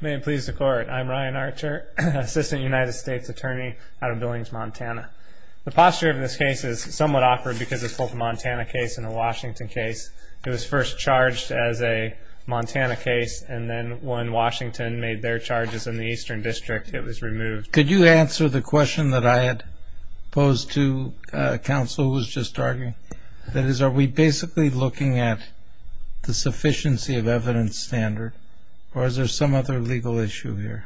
May it please the court, I'm Ryan Archer, Assistant United States Attorney out of Billings, Montana. The posture of this case is somewhat awkward because it's both a Montana case and a Washington case. It was first charged as a Montana case, and then when Washington made their charges in the Eastern District, it was removed. Could you answer the question that I had posed to counsel who was just arguing? That is, are we basically looking at the sufficiency of evidence standard, or is there some other legal issue here?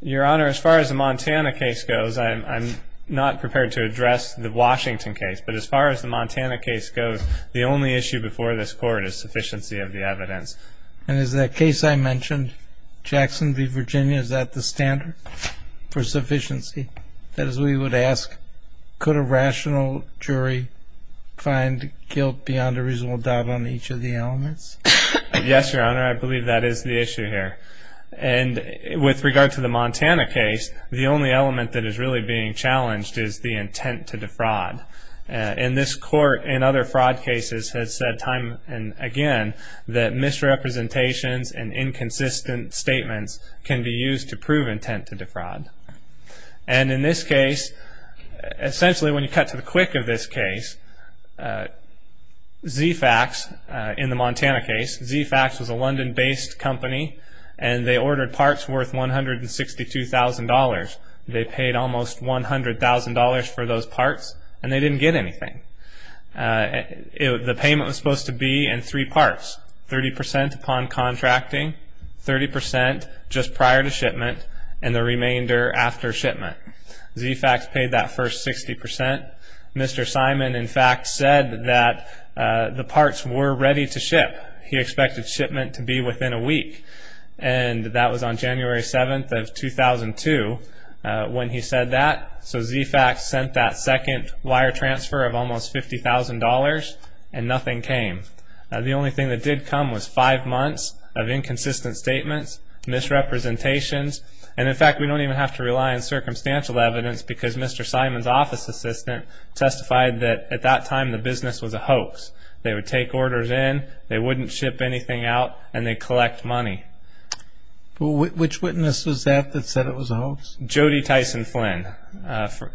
Your Honor, as far as the Montana case goes, I'm not prepared to address the Washington case, but as far as the Montana case goes, the only issue before this court is sufficiency of the evidence. And is that case I mentioned, Jackson v. Virginia, is that the standard for sufficiency? That is, we would ask, could a rational jury find guilt beyond a reasonable doubt on each of the elements? Yes, Your Honor, I believe that is the issue here. And with regard to the Montana case, the only element that is really being challenged is the intent to defraud. And this court, in other fraud cases, has said time and again that misrepresentations and inconsistent statements can be used to prove intent to defraud. And in this case, essentially when you cut to the quick of this case, Z-Fax, in the Montana case, Z-Fax was a London-based company, and they ordered parts worth $162,000. They paid almost $100,000 for those parts, and they didn't get anything. The payment was supposed to be in three parts. 30% upon contracting, 30% just prior to shipment, and the remainder after shipment. Z-Fax paid that first 60%. Mr. Simon, in fact, said that the parts were ready to ship. He expected shipment to be within a week, and that was on January 7th of 2002 when he said that. So Z-Fax sent that second wire transfer of almost $50,000, and nothing came. The only thing that did come was five months of inconsistent statements, misrepresentations, and in fact we don't even have to rely on circumstantial evidence because Mr. Simon's office assistant testified that at that time the business was a hoax. They would take orders in, they wouldn't ship anything out, and they'd collect money. Which witness was that that said it was a hoax? Jody Tyson Flynn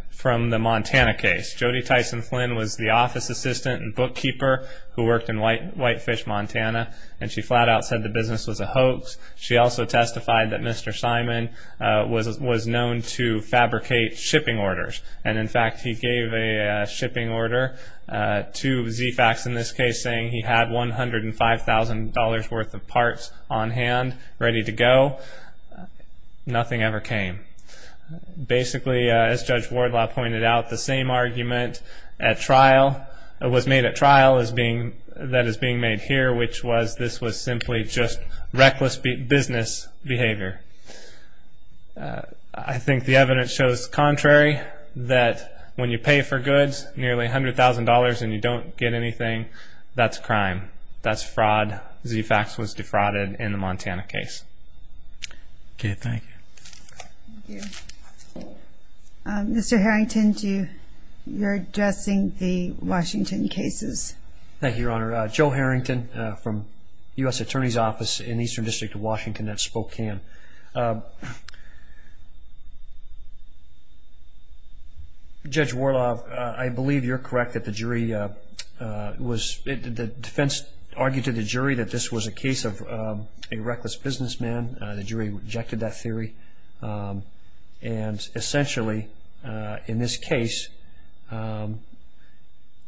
from the Montana case. Jody Tyson Flynn was the office assistant and bookkeeper who worked in Whitefish, Montana, and she flat out said the business was a hoax. She also testified that Mr. Simon was known to fabricate shipping orders, and in fact he gave a shipping order to Z-Fax in this case saying he had $105,000 worth of parts on hand ready to go. Nothing ever came. Basically, as Judge Wardlaw pointed out, the same argument was made at trial that is being made here, which was this was simply just reckless business behavior. I think the evidence shows the contrary, that when you pay for goods nearly $100,000 and you don't get anything, that's crime. That's fraud. Z-Fax was defrauded in the Montana case. Okay, thank you. Mr. Harrington, you're addressing the Washington cases. Thank you, Your Honor. Joe Harrington from U.S. Attorney's Office in Eastern District of Washington at Spokane. Judge Wardlaw, I believe you're correct that the defense argued to the jury that this was a case of a reckless businessman. The jury rejected that theory. Essentially, in this case,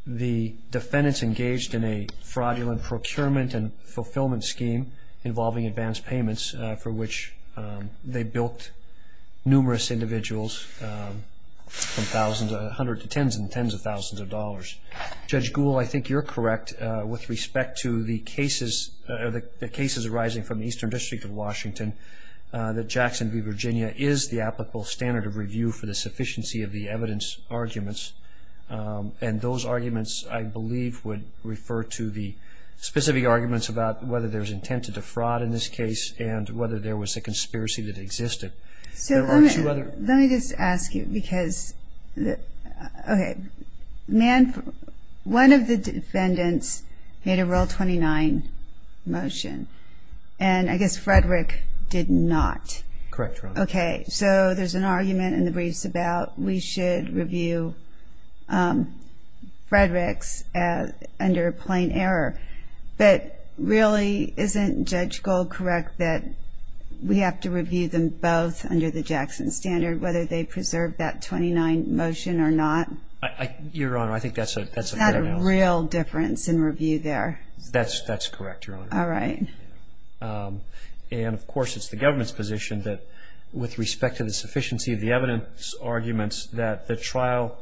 the defendants engaged in a fraudulent procurement and fulfillment scheme involving advance payments for which they built numerous individuals from hundreds to tens and tens of thousands of dollars. Judge Gould, I think you're correct with respect to the cases arising from the Eastern District of Washington that Jackson v. Virginia is the applicable standard of review for the sufficiency of the evidence arguments. And those arguments, I believe, would refer to the specific arguments about whether there's intent to defraud in this case and whether there was a conspiracy that existed. Let me just ask you, because one of the defendants made a Rule 29 motion, and I guess Frederick did not. Correct, Your Honor. Okay, so there's an argument in the briefs about we should review Frederick's under plain error. But really, isn't Judge Gould correct that we have to review them both under the Jackson standard, whether they preserve that 29 motion or not? Your Honor, I think that's a fair analysis. Is that a real difference in review there? That's correct, Your Honor. All right. And, of course, it's the government's position that, with respect to the sufficiency of the evidence arguments, that the trial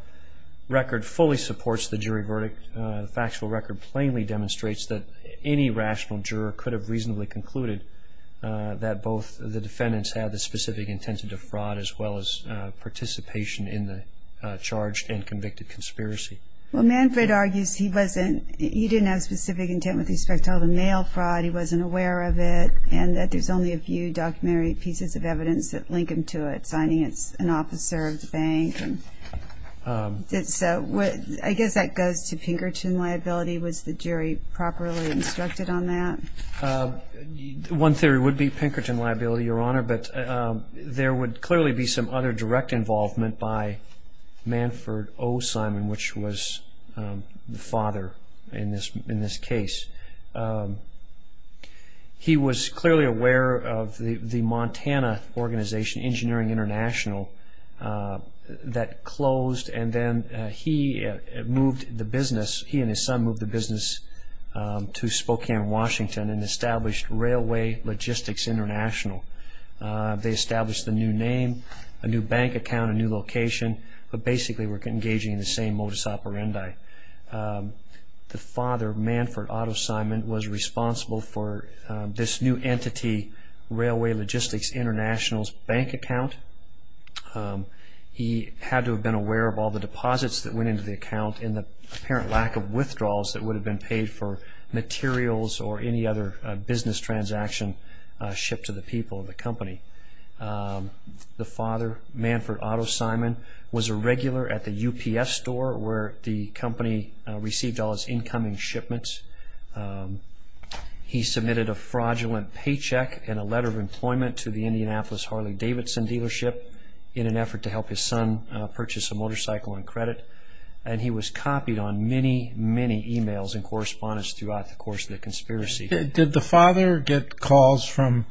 record fully supports the jury verdict. The factual record plainly demonstrates that any rational juror could have reasonably concluded that both the defendants had the specific intent to defraud, as well as participation in the charged and convicted conspiracy. Well, Manfred argues he didn't have specific intent with respect to all the mail fraud, he wasn't aware of it, and that there's only a few documentary pieces of evidence that link him to it, such as finding an officer of the bank. I guess that goes to Pinkerton liability. Was the jury properly instructed on that? One theory would be Pinkerton liability, Your Honor, but there would clearly be some other direct involvement by Manfred O. Simon, which was the father in this case. He was clearly aware of the Montana organization, Engineering International, that closed, and then he and his son moved the business to Spokane, Washington, and established Railway Logistics International. They established a new name, a new bank account, a new location, but basically were engaging in the same modus operandi. The father, Manfred Otto Simon, was responsible for this new entity, Railway Logistics International's bank account. He had to have been aware of all the deposits that went into the account and the apparent lack of withdrawals that would have been paid for materials or any other business transaction shipped to the people of the company. The father, Manfred Otto Simon, was a regular at the UPS store where the company received all its incoming shipments. He submitted a fraudulent paycheck and a letter of employment to the Indianapolis Harley-Davidson dealership in an effort to help his son purchase a motorcycle on credit, and he was copied on many, many emails and correspondence throughout the course of the conspiracy. Did the father get calls from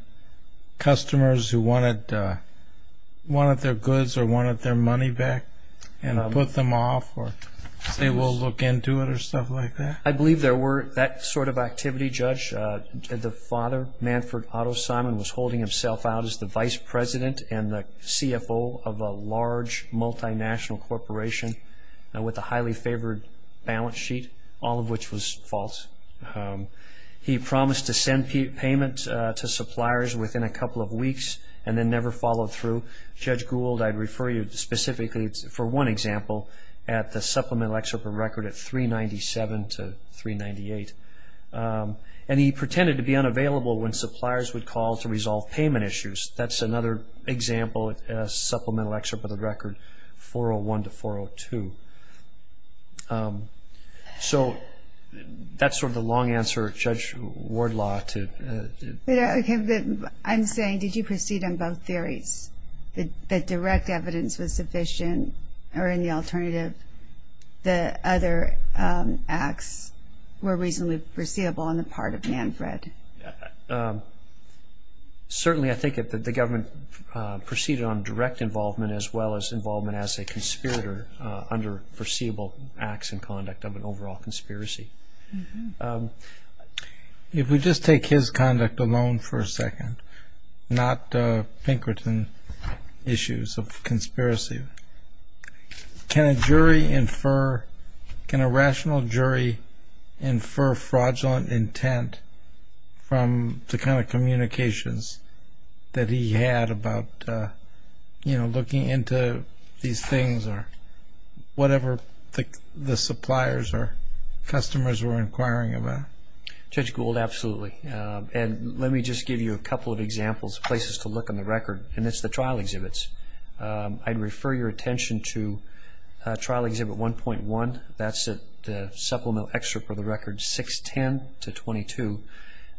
customers who wanted their goods or wanted their money back and put them off or say we'll look into it or stuff like that? I believe there were that sort of activity, Judge. The father, Manfred Otto Simon, was holding himself out as the vice president and the CFO of a large multinational corporation with a highly favored balance sheet, all of which was false. He promised to send payment to suppliers within a couple of weeks and then never followed through. Judge Gould, I'd refer you specifically for one example, at the supplemental excerpt of the record at 397 to 398. And he pretended to be unavailable when suppliers would call to resolve payment issues. That's another example, a supplemental excerpt of the record, 401 to 402. So that's sort of the long answer, Judge Wardlaw. I'm saying did you proceed on both theories, that direct evidence was sufficient or any alternative, the other acts were reasonably foreseeable on the part of Manfred? Certainly I think that the government proceeded on direct involvement as well as involvement as a conspirator under foreseeable acts and conduct of an overall conspiracy. If we just take his conduct alone for a second, not Pinkerton issues of conspiracy, can a jury infer, can a rational jury infer fraudulent intent from the kind of communications that he had about, you know, looking into these things or whatever the suppliers or customers were inquiring about? Judge Gould, absolutely. And let me just give you a couple of examples, places to look on the record, and it's the trial exhibits. I'd refer your attention to trial exhibit 1.1. That's the supplemental excerpt for the record, 610 to 22.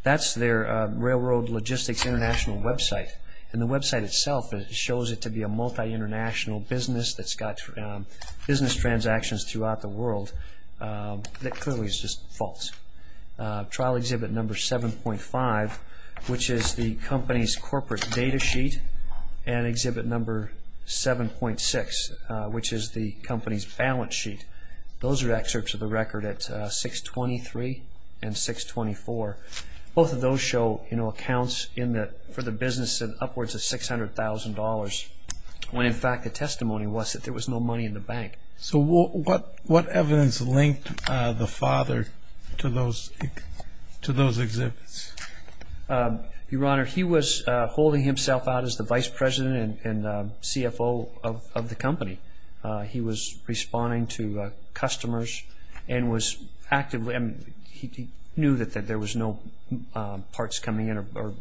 That's their Railroad Logistics International website. And the website itself shows it to be a multi-international business that's got business transactions throughout the world. That clearly is just false. Trial exhibit number 7.5, which is the company's corporate data sheet, and exhibit number 7.6, which is the company's balance sheet. Those are excerpts of the record at 623 and 624. Both of those show, you know, accounts for the business of upwards of $600,000 when, in fact, the testimony was that there was no money in the bank. So what evidence linked the father to those exhibits? Your Honor, he was holding himself out as the vice president and CFO of the company. He was responding to customers and was actively He knew that there was no parts coming in or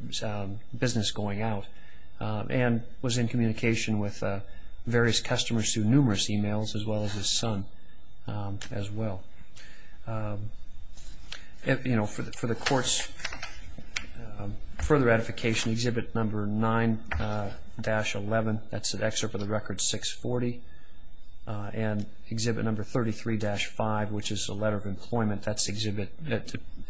business going out and was in communication with various customers through numerous e-mails as well as his son as well. For the court's further ratification, exhibit number 9-11. That's an excerpt of the record, 640. And exhibit number 33-5, which is a letter of employment. That's an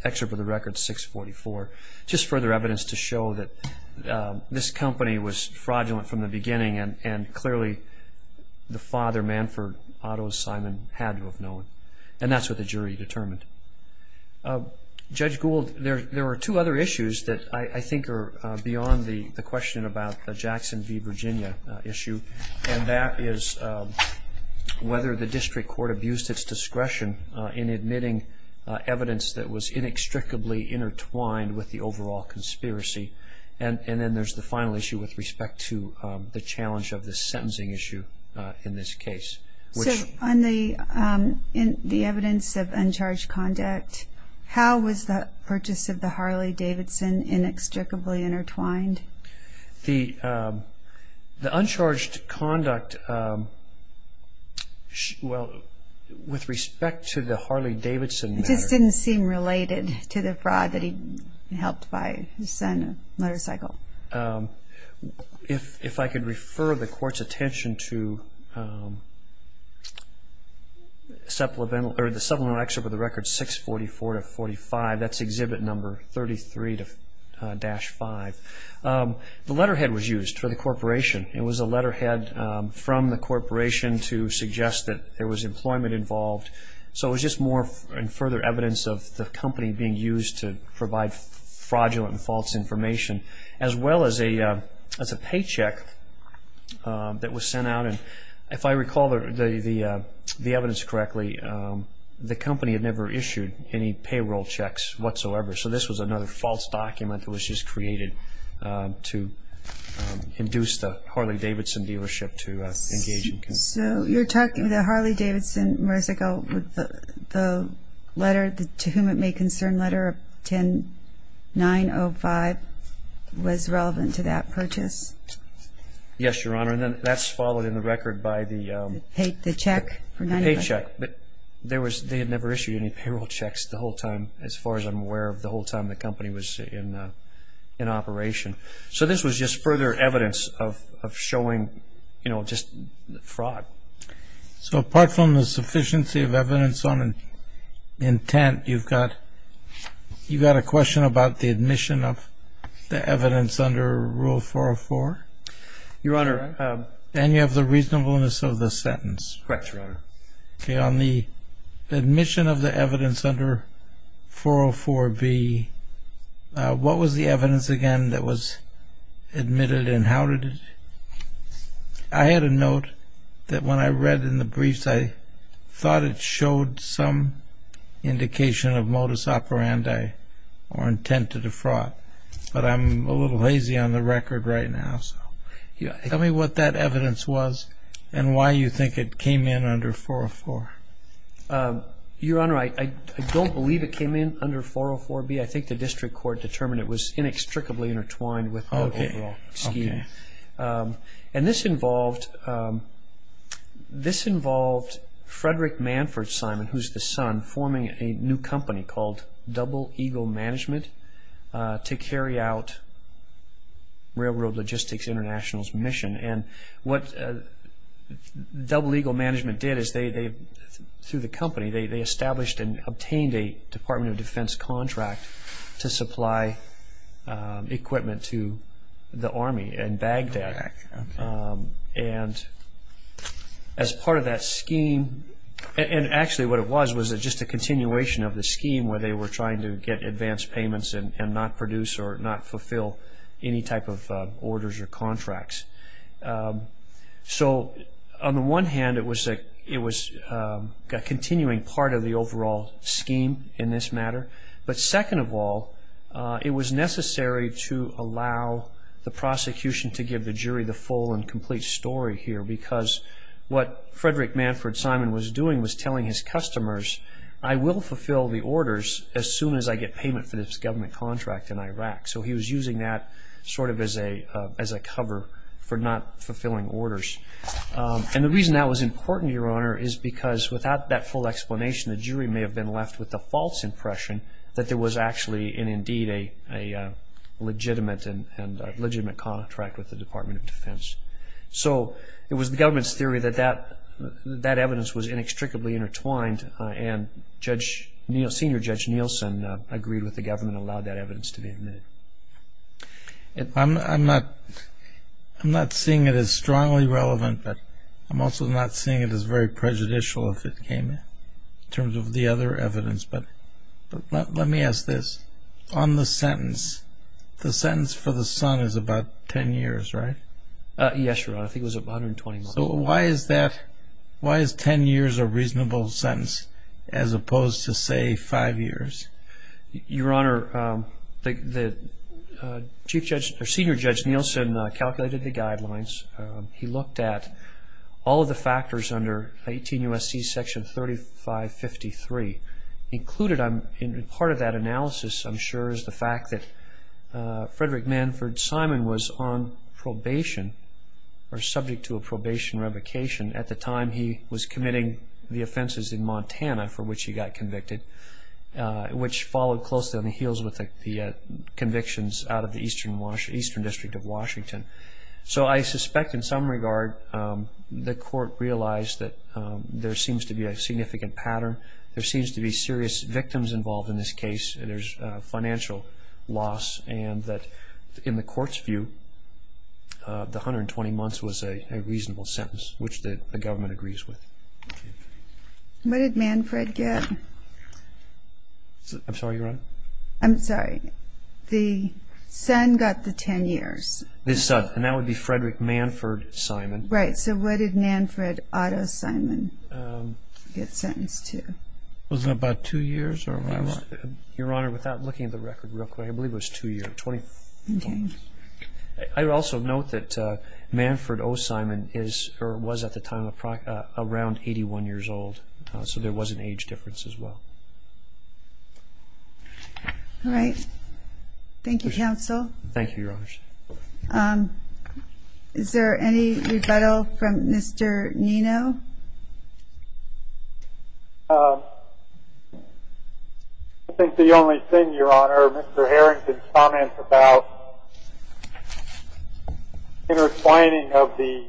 excerpt of the record, 644. Just further evidence to show that this company was fraudulent from the beginning and clearly the father, Manford Otto Simon, had to have known. And that's what the jury determined. Judge Gould, there are two other issues that I think are beyond the question about the Jackson v. Virginia issue. And that is whether the district court abused its discretion in admitting evidence that was inextricably intertwined with the overall conspiracy. And then there's the final issue with respect to the challenge of the sentencing issue in this case. So on the evidence of uncharged conduct, how was the purchase of the Harley-Davidson inextricably intertwined? The uncharged conduct, well, with respect to the Harley-Davidson matter. It just didn't seem related to the fraud that he helped by his son's motorcycle. If I could refer the court's attention to the supplemental excerpt of the record, 644-45. That's exhibit number 33-5. The letterhead was used for the corporation. It was a letterhead from the corporation to suggest that there was employment involved. So it was just more and further evidence of the company being used to provide fraudulent and false information, as well as a paycheck that was sent out. And if I recall the evidence correctly, the company had never issued any payroll checks whatsoever. So this was another false document that was just created to induce the Harley-Davidson dealership to engage. So you're talking the Harley-Davidson motorcycle with the letter, the To Whom It May Concern letter of 10-905 was relevant to that purchase? Yes, Your Honor, and that's followed in the record by the paycheck. But they had never issued any payroll checks the whole time, as far as I'm aware of the whole time the company was in operation. So this was just further evidence of showing, you know, just fraud. So apart from the sufficiency of evidence on intent, you've got a question about the admission of the evidence under Rule 404? Your Honor. And you have the reasonableness of the sentence. Correct, Your Honor. Okay, on the admission of the evidence under 404B, what was the evidence again that was admitted and how did it? I had a note that when I read in the briefs, I thought it showed some indication of modus operandi or intent to defraud. But I'm a little lazy on the record right now. Tell me what that evidence was and why you think it came in under 404. Your Honor, I don't believe it came in under 404B. I think the district court determined it was inextricably intertwined with the overall scheme. Okay. And this involved Frederick Manford Simon, who's the son, forming a new company called Double Eagle Management to carry out Railroad Logistics International's mission. And what Double Eagle Management did is they, through the company, they established and obtained a Department of Defense contract to supply equipment to the Army in Baghdad. Okay. And as part of that scheme, and actually what it was was just a continuation of the scheme where they were trying to get advance payments and not produce or not fulfill any type of orders or contracts. So on the one hand, it was a continuing part of the overall scheme in this matter. But second of all, it was necessary to allow the prosecution to give the jury the full and complete story here because what Frederick Manford Simon was doing was telling his customers, I will fulfill the orders as soon as I get payment for this government contract in Iraq. So he was using that sort of as a cover for not fulfilling orders. And the reason that was important, Your Honor, is because without that full explanation, the jury may have been left with the false impression that there was actually and indeed a legitimate contract with the Department of Defense. So it was the government's theory that that evidence was inextricably intertwined and Senior Judge Nielsen agreed with the government and allowed that evidence to be admitted. I'm not seeing it as strongly relevant, but I'm also not seeing it as very prejudicial if it came in terms of the other evidence. But let me ask this. On the sentence, the sentence for the son is about 10 years, right? Yes, Your Honor. I think it was 120 months. So why is 10 years a reasonable sentence as opposed to, say, 5 years? Your Honor, Senior Judge Nielsen calculated the guidelines. He looked at all of the factors under 18 U.S.C. Section 3553. Part of that analysis, I'm sure, is the fact that Frederick Manford Simon was on probation or subject to a probation revocation at the time he was committing the offenses in Montana for which he got convicted, which followed closely on the heels with the convictions out of the Eastern District of Washington. So I suspect in some regard the court realized that there seems to be a significant pattern, there seems to be serious victims involved in this case, and there's financial loss, and that in the court's view, the 120 months was a reasonable sentence, which the government agrees with. What did Manford get? I'm sorry, Your Honor? I'm sorry. The son got the 10 years. And that would be Frederick Manford Simon. Right. So what did Manford Otto Simon get sentenced to? Was it about 2 years? Your Honor, without looking at the record real quick, I believe it was 2 years. I would also note that Manford O. Simon was at the time around 81 years old, so there was an age difference as well. All right. Thank you, counsel. Thank you, Your Honor. Is there any rebuttal from Mr. Nino? No. I think the only thing, Your Honor, Mr. Harrington's comments about intertwining of the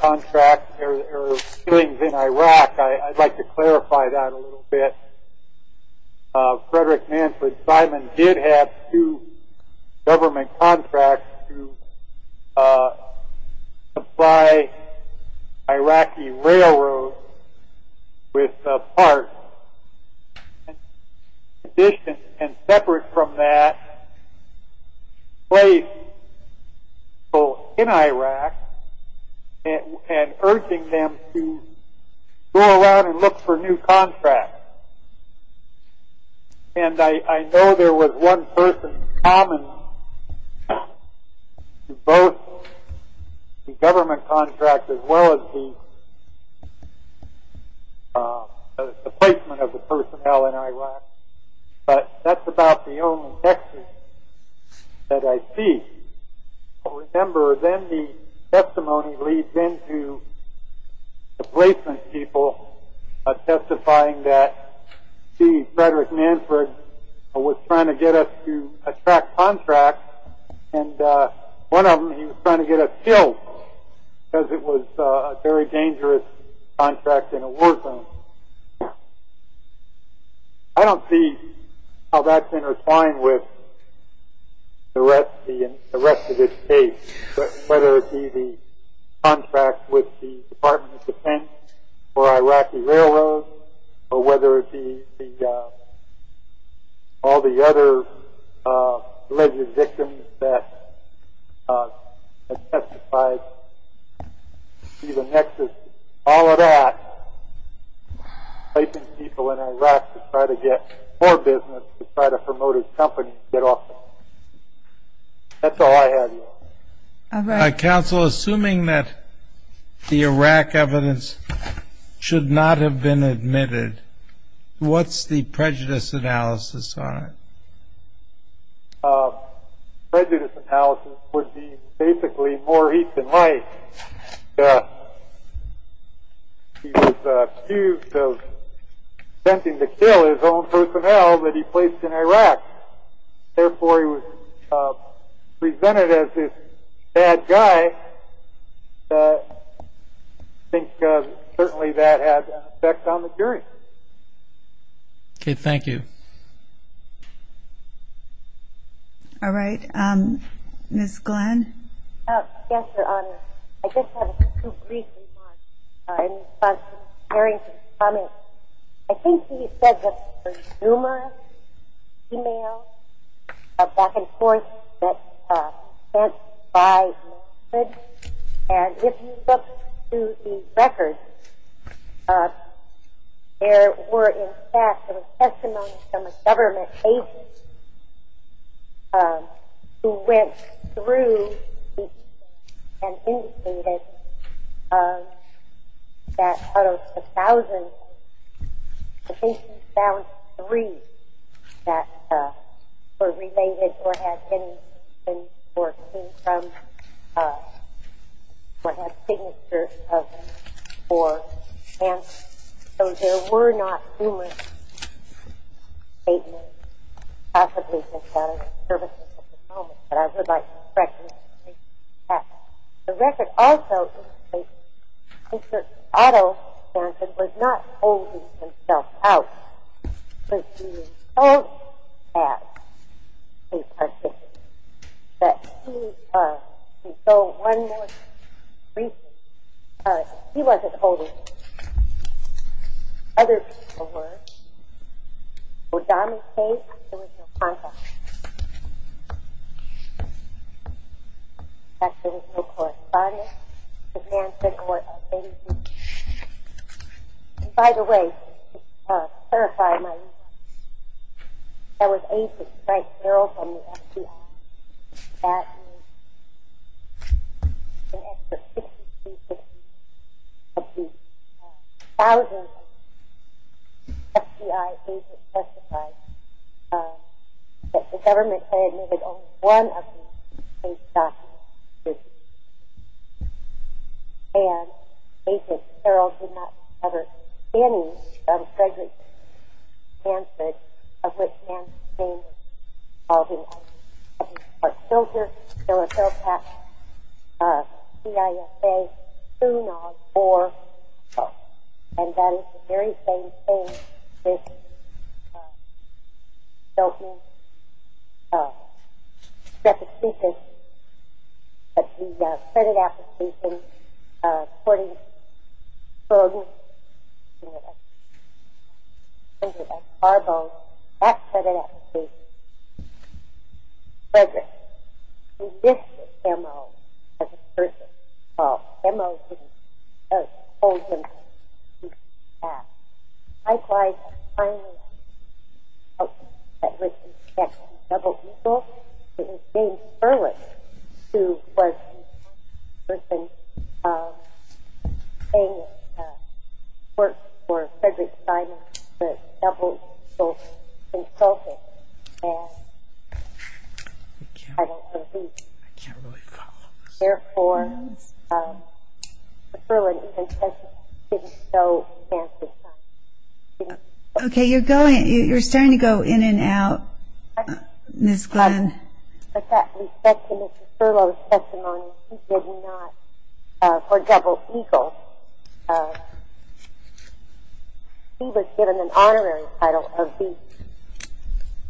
contract or dealings in Iraq, I'd like to clarify that a little bit. Frederick Manford Simon did have two government contracts to supply Iraqi railroads with parts. And separate from that, placed people in Iraq and urging them to go around and look for new contracts. And I know there was one person common to both the government contract as well as the placement of the personnel in Iraq, but that's about the only text that I see. I remember then the testimony leads into the placement people testifying that, see, Frederick Manford was trying to get us to attract contracts, and one of them he was trying to get us killed because it was a very dangerous contract in a war zone. I don't see how that's intertwined with the rest of this case, whether it be the contract with the Department of Defense for Iraqi railroads, or whether it be all the other alleged victims that have testified. See, the nexus, all of that, placing people in Iraq to try to get more business, to try to promote his company, to get off the hook. Counsel, assuming that the Iraq evidence should not have been admitted, what's the prejudice analysis on it? Prejudice analysis would be basically more heat than light. He was accused of attempting to kill his own personnel that he placed in Iraq. Therefore, he was presented as this bad guy. I think certainly that has an effect on the jury. Okay. Thank you. All right. Ms. Glenn. Yes, Your Honor. I just have a brief response in response to Terry's comment. I think he said that the Zuma e-mails back and forth get sent by message. And if you look through the records, there were, in fact, there were testimonies from a government agent who went through each that out of 1,000, I think he found three that were related or had any information or came from what had signatures of him for cancer. So there were not Zuma statements possibly from government services at the moment, but I would like to recognize that. The record also indicates that Mr. Otto Johnson was not holding himself out because he was told at a particular that he was. And so one more brief response. He wasn't holding himself out. Other people were. In the O'Donnell case, there was no contact. In fact, there was no correspondence. And by the way, to clarify my response, that was Agent Frank Carroll from the FBI. That is an extra 6,250 of the 1,000 FBI agents testified that the government said it needed only one of these case documents. And Agent Carroll did not cover any of Frederick's cancers, of which Nancy's name was involved in all these cases. But still here, there was no contact. C-I-S-A soon on for, and that is the very same thing, this filthy repetition of the credit application, quoting Ferguson, I think it was, Arbo, that credit application, Frederick. And this is MO as a person. Well, MO didn't hold himself out. Likewise, finally, that was a double-eagle. It was James Perlis who was the person saying work for Frederick Simon, the double-eagle consultant. And I don't believe it. I can't really follow this. Therefore, Mr. Perlis' testimony didn't show Nancy Simon. Okay, you're starting to go in and out, Ms. Glenn. In fact, we said to Mr. Perlis' testimony, he did not, for double-eagle, he was given an honorary title of B.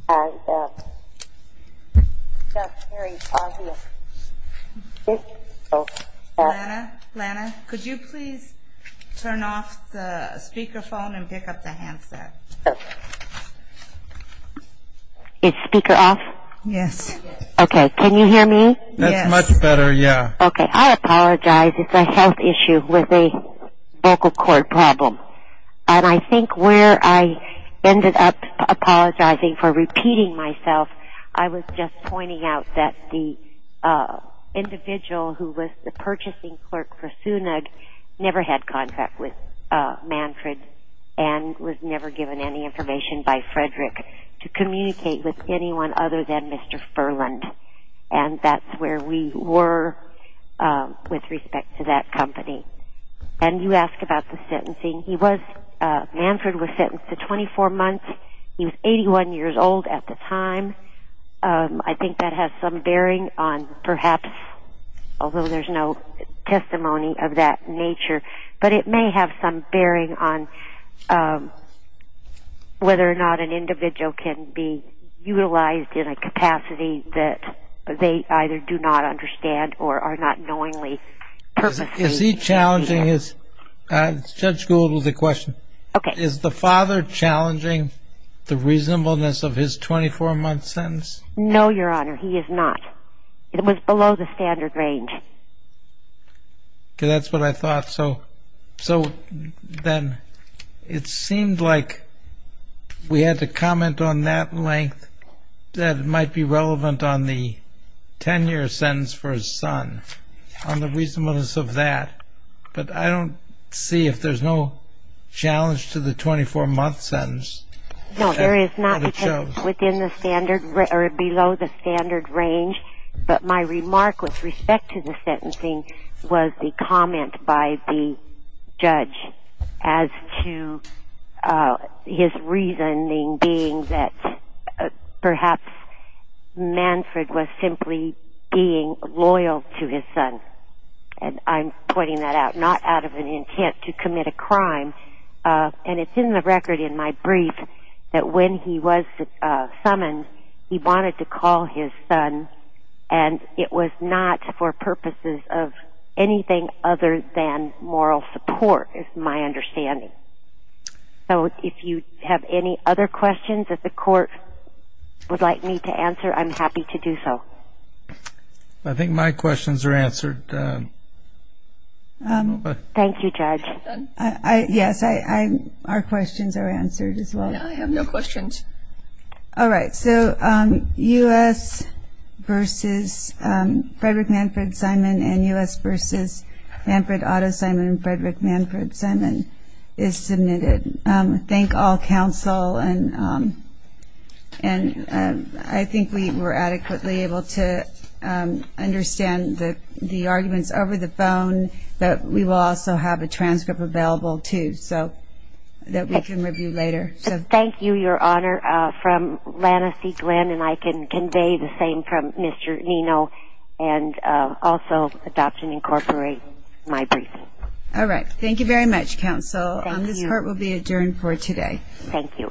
And that's very obvious. Lana, Lana, could you please turn off the speakerphone and pick up the handset? Is speaker off? Yes. Okay, can you hear me? Yes. That's much better, yeah. Okay, I apologize. It's a health issue with a vocal cord problem. And I think where I ended up apologizing for repeating myself, I was just pointing out that the individual who was the purchasing clerk for Sunag never had contract with Manfred and was never given any information by Frederick to communicate with anyone other than Mr. Furland. And that's where we were with respect to that company. And you asked about the sentencing. He was, Manfred was sentenced to 24 months. He was 81 years old at the time. I think that has some bearing on perhaps, although there's no testimony of that nature, but it may have some bearing on whether or not an individual can be utilized in a capacity that they either do not understand or are not knowingly purposely using. Is he challenging his – Judge Gould has a question. Okay. Is the father challenging the reasonableness of his 24-month sentence? No, Your Honor, he is not. It was below the standard range. Okay, that's what I thought. So then it seemed like we had to comment on that length that might be relevant on the 10-year sentence for his son, on the reasonableness of that. But I don't see if there's no challenge to the 24-month sentence. No, there is not because it's within the standard or below the standard range. But my remark with respect to the sentencing was the comment by the judge as to his reasoning being that perhaps Manfred was simply being loyal to his son. And I'm pointing that out, not out of an intent to commit a crime. And it's in the record in my brief that when he was summoned he wanted to call his son, and it was not for purposes of anything other than moral support is my understanding. So if you have any other questions that the court would like me to answer, I'm happy to do so. I think my questions are answered. Thank you, Judge. Yes, our questions are answered as well. I have no questions. All right, so U.S. v. Frederick Manfred Simon and U.S. v. Manfred Otto Simon and Frederick Manfred Simon is submitted. Thank all counsel, and I think we were adequately able to understand the arguments over the phone, but we will also have a transcript available too that we can review later. Thank you, Your Honor. From Lana C. Glenn, and I can convey the same from Mr. Nino, and also Adoption Incorporated, my briefing. All right. Thank you very much, counsel. Thank you. This court will be adjourned for today. Thank you. All right.